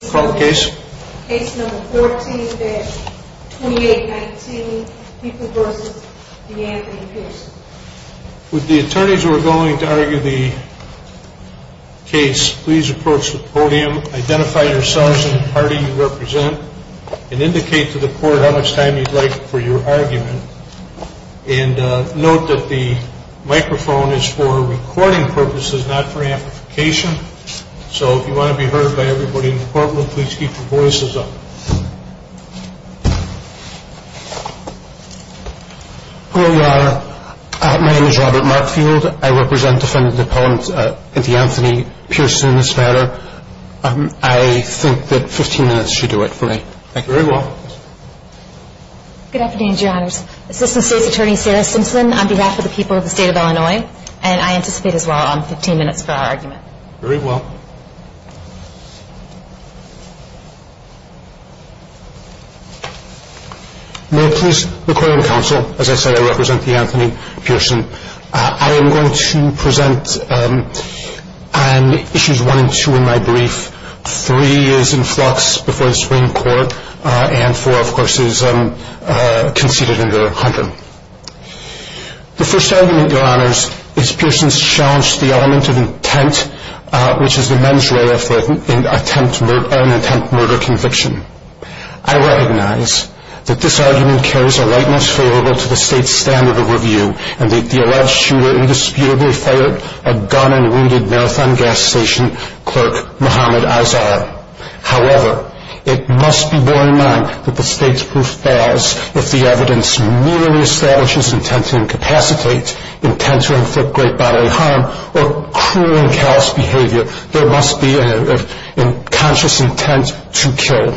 With the attorneys who are going to argue the case, please approach the podium, identify yourselves and the party you represent, and indicate to the court how much time you would like for your argument. And note that the microphone is for recording purposes, not for amplification. So if you want to be heard by everybody in the courtroom, please keep your voices up. Robert Markfield Hello, Your Honor. My name is Robert Markfield. I represent Defendant Appellant Anthony Pearson in this matter. I think that 15 minutes should do it for me. Sarah Simpson Good afternoon, Your Honors. Assistant State's Attorney Sarah Simpson on behalf of the people of the state of Illinois, and I anticipate as well on 15 minutes for our argument. Robert Markfield Very well. Robert Markfield May I please require counsel? As I said, I represent Defendant Anthony Pearson. I am going to present issues 1 and 2 in my brief. 3 is in flux before the Supreme Court, and 4, of course, is conceded under Hunter. Robert Markfield The first argument, Your Honors, is Pearson's challenge to the element of intent, which is the men's way of an attempt murder conviction. I recognize that this argument carries a lightness favorable to the state's standard of review, and that the alleged shooter indisputably fired a gun at a wounded Marathon gas station clerk, Muhammad Azar. However, it must be borne in mind that the state's proof falls if the evidence merely establishes intent to incapacitate, intent to inflict great bodily harm, or cruel and callous behavior. There must be a conscious intent to kill.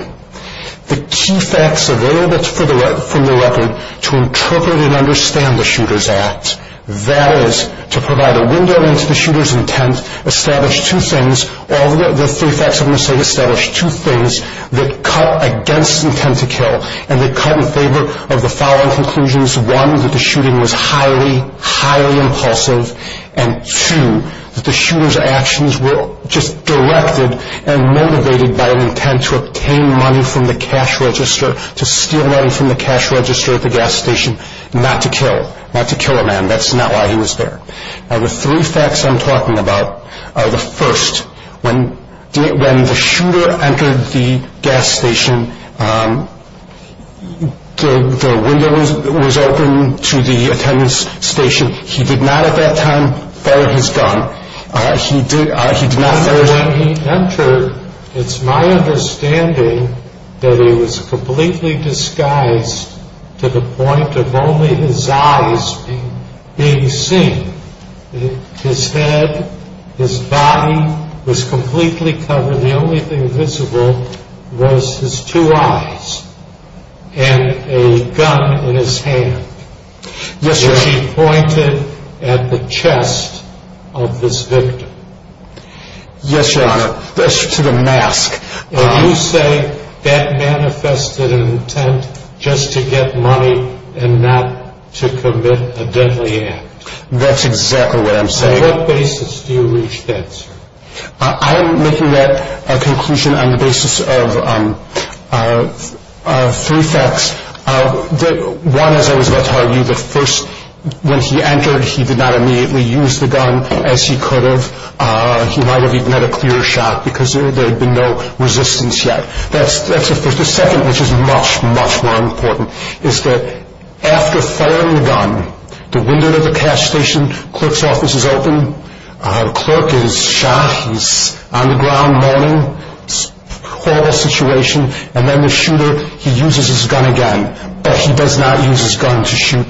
The key facts available from the record to interpret and understand the shooter's act, that is, to provide a window into the shooter's intent, establish two things, all the three facts I'm going to say establish two things, that cut against intent to kill, and that cut in favor of the following conclusions. One, that the shooting was highly, highly impulsive, and two, that the shooter's actions were just directed and motivated by an intent to obtain money from the cash register, to steal money from the cash register at the gas station, not to kill, not to kill a man. That's not why he was there. Now the three facts I'm talking about are the first, when the shooter entered the gas station, the window was open to the attendance station. He did not at that time fire his gun. He did not fire his gun. His head, his body was completely covered. The only thing visible was his two eyes and a gun in his hand. He pointed at the chest of this victim. Yes, Your Honor. That's to the mask. And you say that manifested intent just to get money and not to commit a deadly act. That's exactly what I'm saying. On what basis do you reach that, sir? I'm making that conclusion on the basis of three facts. One, as I was about to argue, the first, when he entered, he did not immediately use the gun as he could have. He might have even had a clearer shot because there had been no resistance yet. That's the first. The second, which is much, much more important, is that after firing the gun, the window of the cash station, clerk's office is open, the clerk is shot, he's on the ground moaning, horrible situation, and then the shooter, he uses his gun again. But he does not use his gun to shoot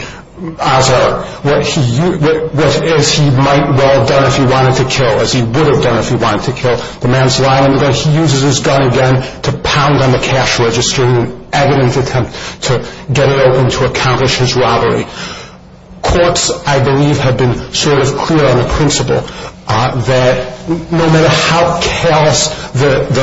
Azhar, as he might well have done if he wanted to kill, as he would have done if he wanted to kill. The man's lying on the ground. He uses his gun again to pound on the cash register in an evident attempt to get it open to accomplish his robbery. Courts, I believe, have been sort of clear on the principle that no matter how chaos the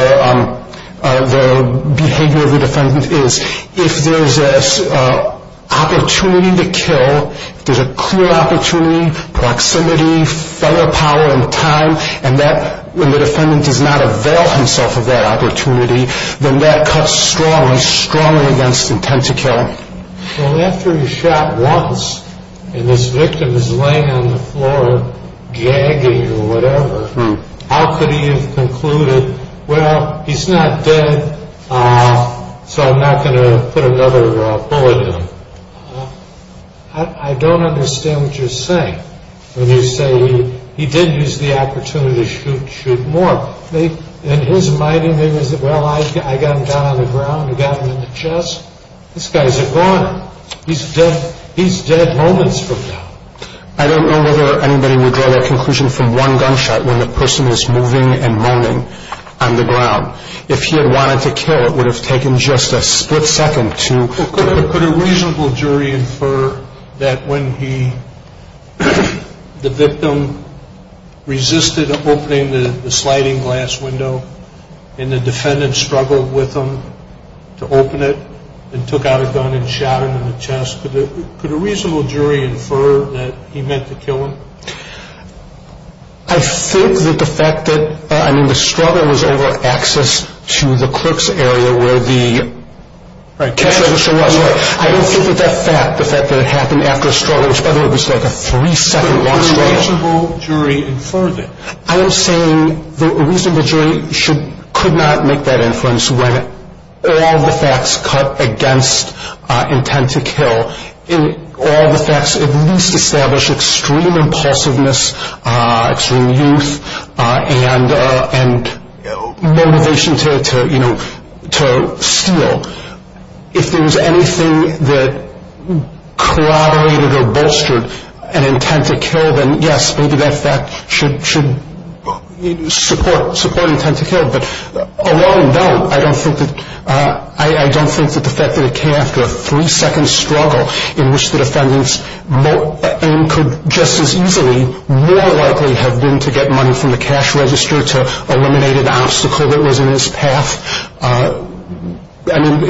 behavior of the defendant is, if there's an opportunity to kill, if there's a clear opportunity, proximity, fellow power, and time, and the defendant does not avail himself of that opportunity, then that cuts strongly, strongly against intent to kill. Well, after he's shot once, and this victim is laying on the floor gagging or whatever, how could he have concluded, well, he's not dead, so I'm not going to put another bullet in him? I don't understand what you're saying when you say he did use the opportunity to shoot more. In his mind, he may have said, well, I got him down on the ground, I got him in the chest. This guy's a goner. He's dead moments from now. I don't know whether anybody would draw that conclusion from one gunshot when the person is moving and moaning on the ground. If he had wanted to kill, it would have taken just a split second to... Could a reasonable jury infer that when the victim resisted opening the sliding glass window and the defendant struggled with him to open it and took out a gun and shot him in the chest, could a reasonable jury infer that he meant to kill him? I think that the fact that, I mean, the struggle was over access to the clerk's area where the... Right. I don't think that that fact, the fact that it happened after a struggle, which, by the way, was like a three-second long struggle... Could a reasonable jury infer that? extreme youth and motivation to, you know, to steal. If there was anything that corroborated or bolstered an intent to kill, then yes, maybe that fact should support an intent to kill. But alone, no, I don't think that the fact that it came after a three-second struggle in which the defendant's aim could just as easily, more likely have been to get money from the cash register to eliminate an obstacle that was in his path. I mean,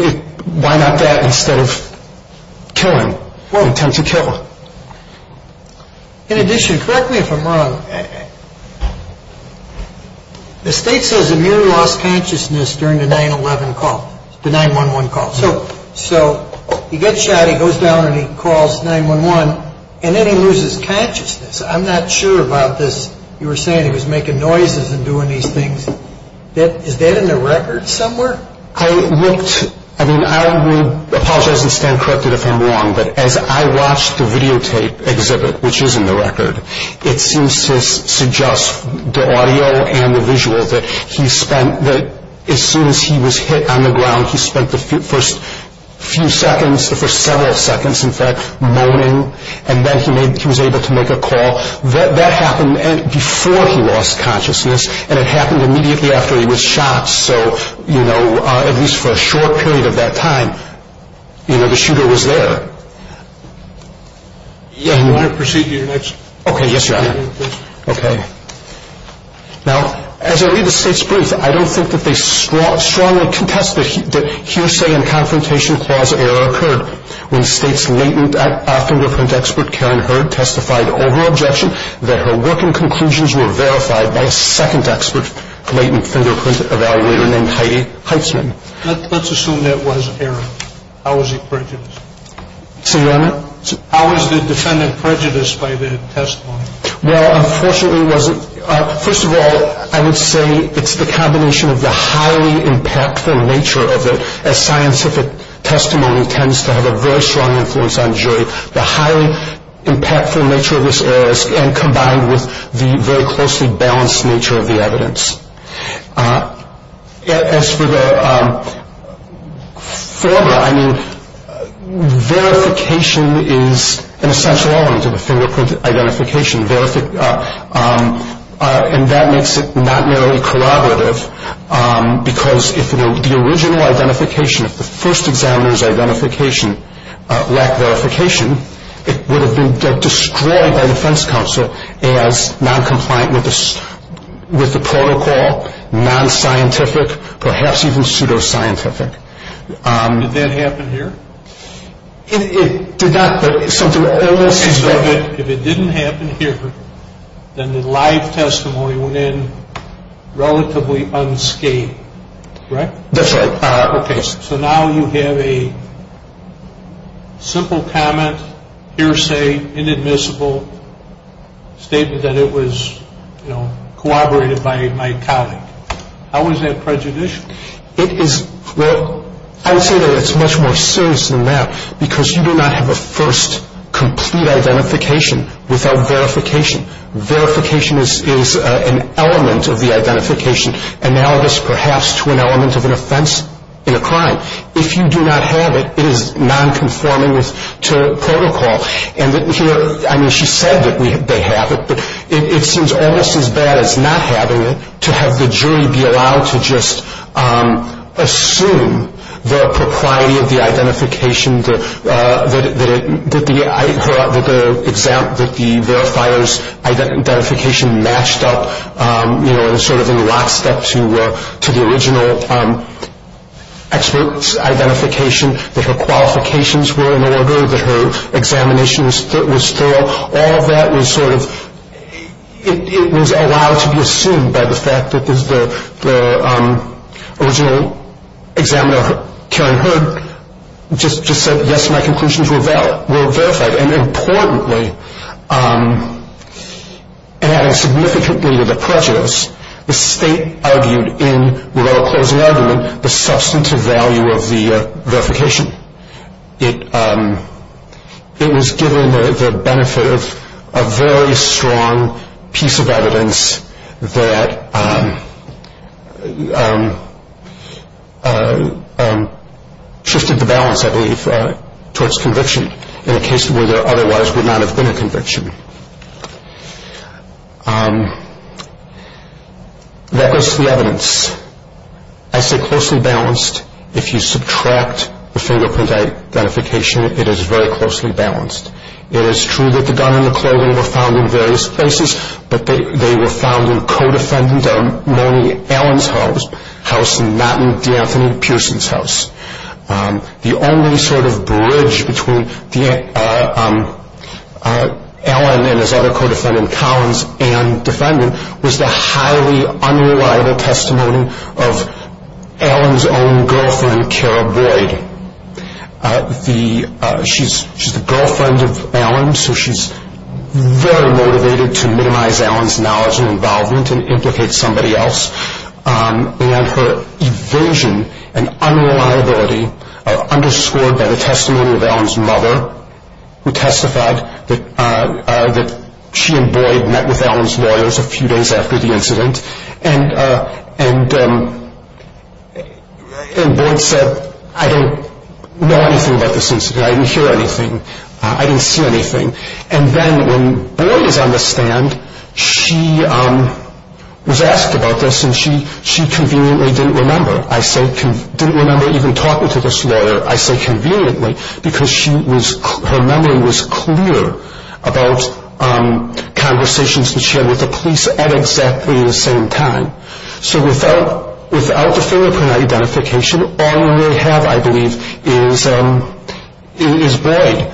why not that instead of killing, intent to kill? In addition, correct me if I'm wrong, the state says Amir lost consciousness during the 9-1-1 call. So he gets shot, he goes down and he calls 9-1-1, and then he loses consciousness. I'm not sure about this. You were saying he was making noises and doing these things. Is that in the record somewhere? I looked... I mean, I will apologize and stand corrected if I'm wrong, but as I watched the videotape exhibit, which is in the record, it seems to suggest the audio and the visual that he spent... that as soon as he was hit on the ground, he spent the first few seconds, the first several seconds, in fact, moaning, and then he was able to make a call. That happened before he lost consciousness, and it happened immediately after he was shot. So, you know, at least for a short period of that time, you know, the shooter was there. You want to proceed to your next? Okay. Yes, Your Honor. Okay. Now, as I read the state's brief, I don't think that they strongly contest that hearsay and confrontation clause error occurred. When the state's latent fingerprint expert, Karen Hurd, testified over objection, that her working conclusions were verified by a second expert latent fingerprint evaluator named Heidi Heitzman. Let's assume that was error. How is he prejudiced? So, Your Honor? How is the defendant prejudiced by the testimony? Well, unfortunately, it wasn't... on jury, the highly impactful nature of this error, and combined with the very closely balanced nature of the evidence. As for the former, I mean, verification is an essential element of a fingerprint identification, and that makes it not merely corroborative, because if the original identification, if the first examiner's identification lacked verification, it would have been destroyed by the defense counsel as noncompliant with the protocol, nonscientific, perhaps even pseudoscientific. Did that happen here? It did not. If it didn't happen here, then the live testimony went in relatively unscathed, right? That's right. Okay. So now you have a simple comment, hearsay, inadmissible statement that it was corroborated by my colleague. How is that prejudicial? It is... well, I would say that it's much more serious than that, because you do not have a first complete identification without verification. Verification is an element of the identification, analogous perhaps to an element of an offense in a crime. If you do not have it, it is nonconforming to protocol. And here, I mean, she said that they have it, but it seems almost as bad as not having it to have the jury be allowed to just assume the propriety of the identification that the verifier's identification matched up sort of in lockstep to the original expert's identification, that her qualifications were in order, that her examination was thorough. All of that was sort of... it was allowed to be assumed by the fact that the original examiner, Karen Heard, just said, yes, my conclusions were verified. And importantly, adding significantly to the prejudice, the state argued in Ravello's closing argument the substantive value of the verification. It was given the benefit of a very strong piece of evidence that shifted the balance, I believe, towards conviction in a case where there otherwise would not have been a conviction. I say closely balanced. If you subtract the fingerprint identification, it is very closely balanced. It is true that the gun and the clothing were found in various places, but they were found in co-defendant Marnie Allen's house and not in D'Anthony Pearson's house. The only sort of bridge between Allen and his other co-defendant Collins and defendant was the highly unreliable testimony of Allen's own girlfriend, Cara Boyd. She's the girlfriend of Allen, so she's very motivated to minimize Allen's knowledge and involvement and implicate somebody else. And her evasion and unreliability are underscored by the testimony of Allen's mother, who testified that she and Boyd met with Allen's lawyers a few days after the incident. And Boyd said, I don't know anything about this incident. I didn't hear anything. I didn't see anything. And then when Boyd is on the stand, she was asked about this, and she conveniently didn't remember. I said, didn't remember even talking to this lawyer. I said conveniently because her memory was clear about conversations that she had with the police at exactly the same time. So without the fingerprint identification, all we really have, I believe, is Boyd.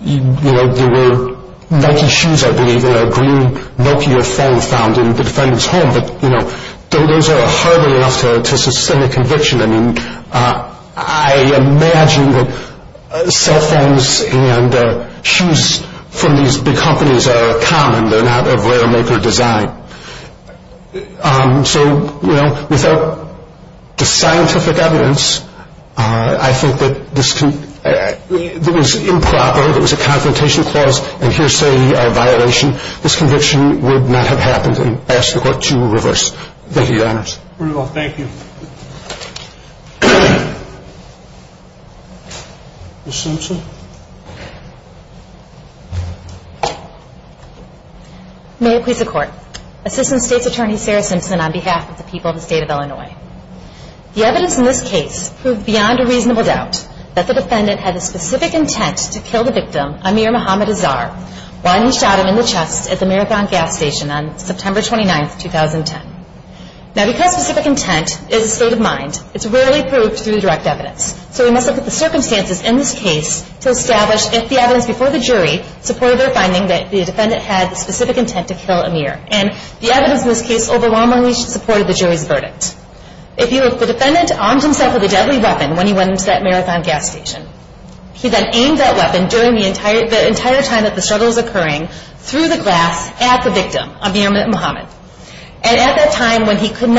There were Nike shoes, I believe, and a green Nokia phone found in the defendant's home, but those are hardly enough to sustain a conviction. I mean, I imagine that cell phones and shoes from these big companies are common. They're not of rare-maker design. So, you know, without the scientific evidence, I think that this was improper. It was a confrontation clause and hearsay violation. This conviction would not have happened, and I ask the court to reverse. Thank you, Your Honors. Thank you. Ms. Simpson. May it please the Court. Assistant State's Attorney Sarah Simpson on behalf of the people of the State of Illinois. The evidence in this case proved beyond a reasonable doubt that the defendant had a specific intent to kill the victim, Amir Mohammed Azhar, while he shot him in the chest at the Marathon gas station on September 29, 2010. Now, because specific intent is a state of mind, it's rarely proved through direct evidence. So we must look at the circumstances in this case to establish if the evidence before the jury supported their finding that the defendant had specific intent to kill Amir. And the evidence in this case overwhelmingly supported the jury's verdict. If the defendant armed himself with a deadly weapon when he went into that Marathon gas station, he then aimed that weapon during the entire time that the struggle was occurring through the glass at the victim, Amir Mohammed. And at that time when he could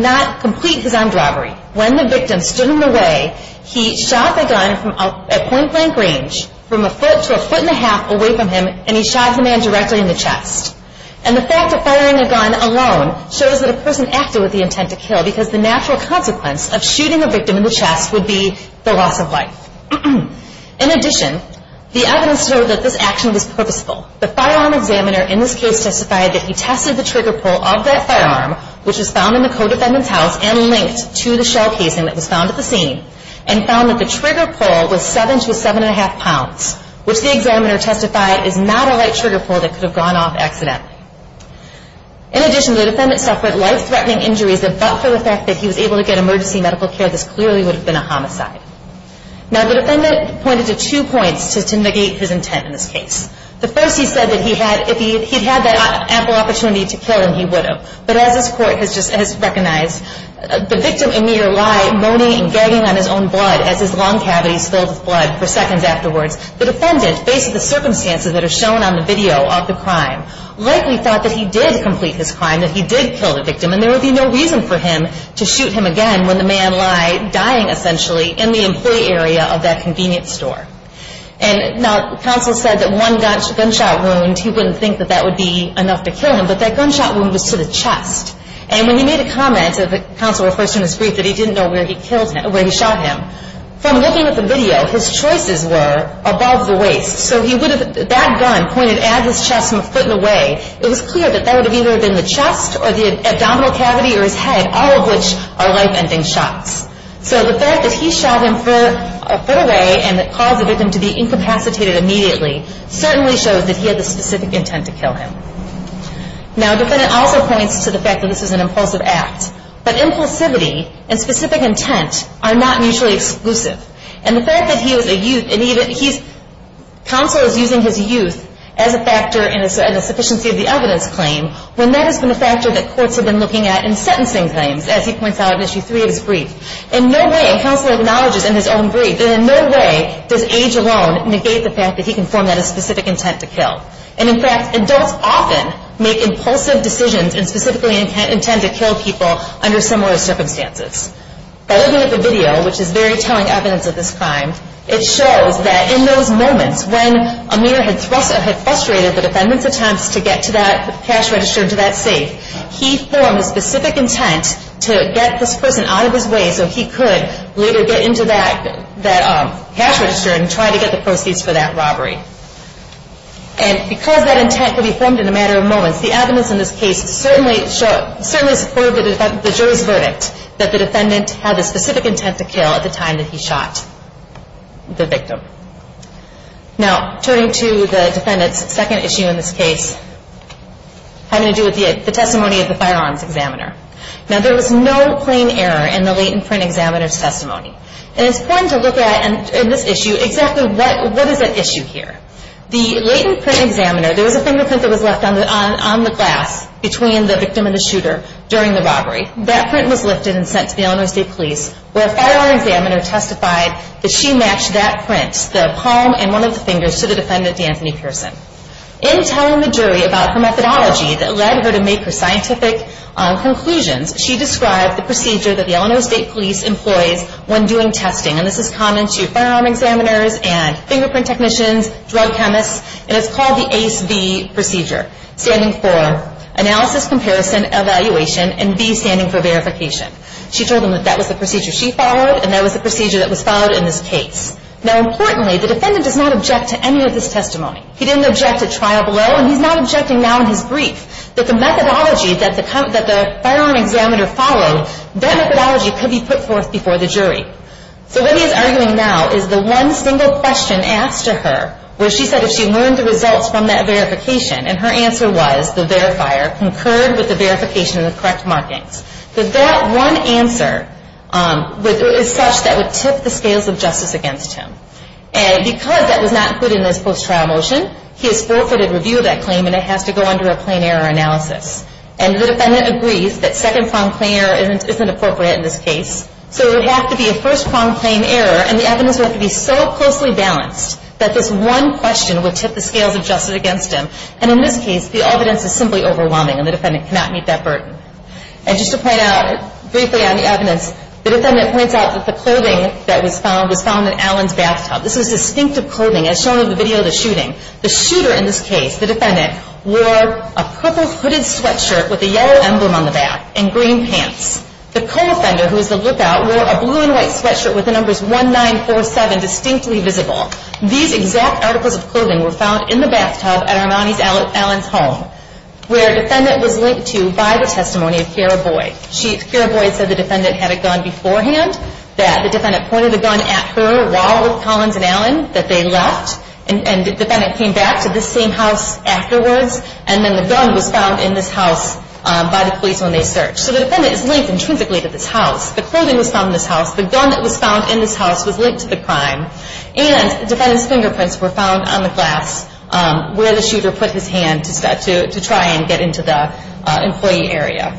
not complete his armed robbery, when the victim stood in the way, he shot the gun at point-blank range from a foot to a foot and a half away from him, and he shot the man directly in the chest. And the fact of firing a gun alone shows that a person acted with the intent to kill because the natural consequence of shooting a victim in the chest would be the loss of life. In addition, the evidence showed that this action was purposeful. The firearm examiner in this case testified that he tested the trigger pull of that firearm, which was found in the co-defendant's house and linked to the shell casing that was found at the scene, and found that the trigger pull was seven to seven and a half pounds, which the examiner testified is not a light trigger pull that could have gone off accidentally. In addition, the defendant suffered life-threatening injuries, but for the fact that he was able to get emergency medical care, this clearly would have been a homicide. Now the defendant pointed to two points to negate his intent in this case. The first, he said that if he'd had that ample opportunity to kill him, he would have. But as this Court has recognized, the victim and meter lie moaning and gagging on his own blood as his lung cavity is filled with blood for seconds afterwards. The defendant, based on the circumstances that are shown on the video of the crime, likely thought that he did complete his crime, that he did kill the victim, and there would be no reason for him to shoot him again when the man lied, dying essentially in the employee area of that convenience store. And now counsel said that one gunshot wound, he wouldn't think that that would be enough to kill him, but that gunshot wound was to the chest. And when he made a comment, and counsel refers to in his brief that he didn't know where he shot him, from looking at the video, his choices were above the waist. So that gun pointed at his chest from a foot away. It was clear that that would have either been the chest or the abdominal cavity or his head, all of which are life-ending shots. So the fact that he shot him a foot away and that caused the victim to be incapacitated immediately certainly shows that he had the specific intent to kill him. Now, the defendant also points to the fact that this is an impulsive act, but impulsivity and specific intent are not mutually exclusive. And the fact that he was a youth, and even he's, counsel is using his youth as a factor in the sufficiency of the evidence claim when that has been a factor that courts have been looking at in sentencing claims, as he points out in Issue 3 of his brief. In no way, and counsel acknowledges in his own brief, that in no way does age alone negate the fact that he can form that specific intent to kill. And in fact, adults often make impulsive decisions and specifically intend to kill people under similar circumstances. By looking at the video, which is very telling evidence of this crime, it shows that in those moments when Amir had frustrated the defendant's attempts to get to that cash register and to that safe, he formed a specific intent to get this person out of his way so he could later get into that cash register and try to get the proceeds for that robbery. And because that intent could be formed in a matter of moments, the evidence in this case certainly supported the jury's verdict that the defendant had the specific intent to kill at the time that he shot the victim. Now, turning to the defendant's second issue in this case, having to do with the testimony of the firearms examiner. Now, there was no plain error in the latent print examiner's testimony. And it's important to look at, in this issue, exactly what is at issue here. The latent print examiner, there was a fingerprint that was left on the glass between the victim and the shooter during the robbery. That print was lifted and sent to the Illinois State Police, where a firearm examiner testified that she matched that print, the palm and one of the fingers, to the defendant, D'Anthony Pearson. In telling the jury about her methodology that led her to make her scientific conclusions, she described the procedure that the Illinois State Police employs when doing testing. And this is common to firearm examiners and fingerprint technicians, drug chemists. And it's called the ACE-V procedure, standing for Analysis, Comparison, Evaluation, and V standing for Verification. She told them that that was the procedure she followed and that was the procedure that was followed in this case. Now, importantly, the defendant does not object to any of this testimony. He didn't object to trial below, and he's not objecting now in his brief, that the methodology that the firearm examiner followed, that methodology could be put forth before the jury. So what he's arguing now is the one single question asked to her, where she said if she learned the results from that verification, and her answer was the verifier concurred with the verification and the correct markings, that that one answer is such that would tip the scales of justice against him. And because that was not included in this post-trial motion, he has forfeited review of that claim, and it has to go under a plain error analysis. And the defendant agrees that second-pronged plain error isn't appropriate in this case, so it would have to be a first-pronged plain error, and the evidence would have to be so closely balanced that this one question would tip the scales of justice against him. And in this case, the evidence is simply overwhelming, and the defendant cannot meet that burden. And just to point out briefly on the evidence, the defendant points out that the clothing that was found was found in Allen's bathtub. This is distinctive clothing as shown in the video of the shooting. The shooter in this case, the defendant, wore a purple hooded sweatshirt with a yellow emblem on the back and green pants. The co-offender, who was the lookout, wore a blue and white sweatshirt with the numbers 1947 distinctly visible. These exact articles of clothing were found in the bathtub at Armani's Allen's home, where a defendant was linked to by the testimony of Kara Boyd. Kara Boyd said the defendant had a gun beforehand, that the defendant pointed the gun at her while with Collins and Allen, that they left, and the defendant came back to this same house afterwards, and then the gun was found in this house by the police when they searched. So the defendant is linked intrinsically to this house. The clothing was found in this house. The gun that was found in this house was linked to the crime. And the defendant's fingerprints were found on the glass where the shooter put his hand to try and get into the employee area.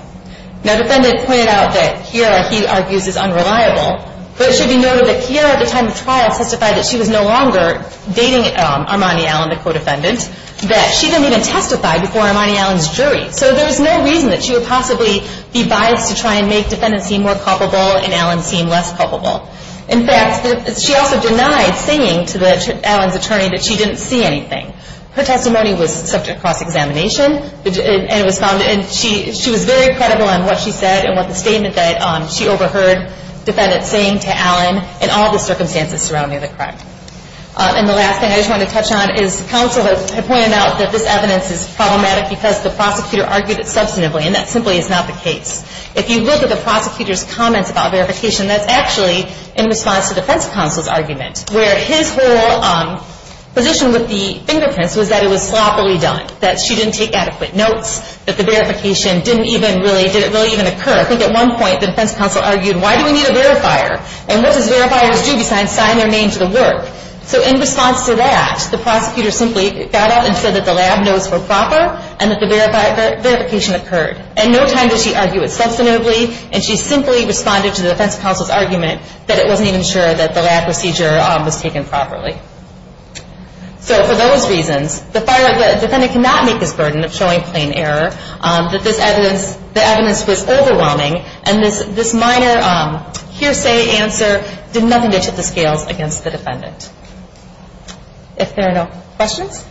Now, the defendant pointed out that Kara, he argues, is unreliable, but it should be noted that Kara, at the time of the trial, testified that she was no longer dating Armani Allen, the co-defendant, that she didn't even testify before Armani Allen's jury. So there's no reason that she would possibly be biased to try and make defendants seem more culpable and Allen seem less culpable. In fact, she also denied saying to Allen's attorney that she didn't see anything. Her testimony was subject to cross-examination, and she was very credible in what she said and what the statement that she overheard the defendant saying to Allen and all the circumstances surrounding the crime. And the last thing I just want to touch on is the counsel had pointed out that this evidence is problematic because the prosecutor argued it substantively, and that simply is not the case. If you look at the prosecutor's comments about verification, that's actually in response to the defense counsel's argument, where his whole position with the fingerprints was that it was sloppily done, that she didn't take adequate notes, that the verification didn't even really occur. I think at one point the defense counsel argued, why do we need a verifier, and what does verifiers do besides sign their name to the work? So in response to that, the prosecutor simply got out and said that the lab notes were proper and that the verification occurred. And no time did she argue it substantively, and she simply responded to the defense counsel's argument that it wasn't even sure that the lab procedure was taken properly. So for those reasons, the defendant cannot make this burden of showing plain error, that the evidence was overwhelming, and this minor hearsay answer did nothing to tip the scales against the defendant. If there are no questions?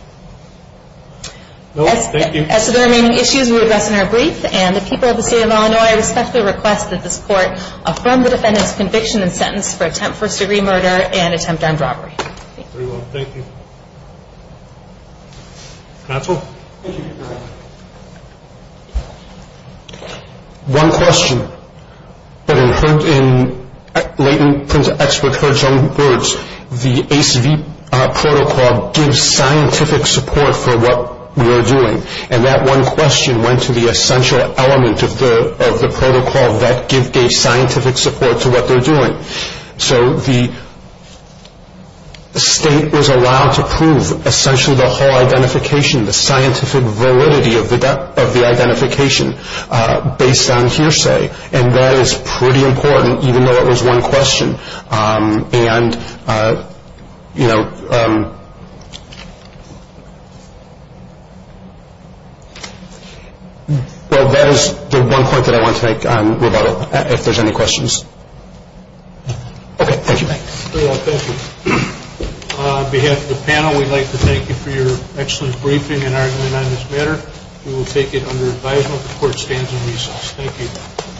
No, thank you. As to the remaining issues, we will address in our brief, and the people of the state of Illinois respectfully request that this court affirm the defendant's conviction and sentence for attempt first-degree murder and attempt on robbery. Thank you. Counsel? One question. But in latent expert heard some words, the ACV protocol gives scientific support for what we are doing, and that one question went to the essential element of the protocol that gave scientific support to what they're doing. So the state is allowed to prove essentially the whole identification, the scientific validity of the identification based on hearsay, and that is pretty important even though it was one question. And, you know, well, that is the one point that I want to make on rebuttal, if there's any questions. Okay, thank you, Mike. Thank you. On behalf of the panel, we'd like to thank you for your excellent briefing and argument on this matter. We will take it under advisement that the court stands in recess. Thank you.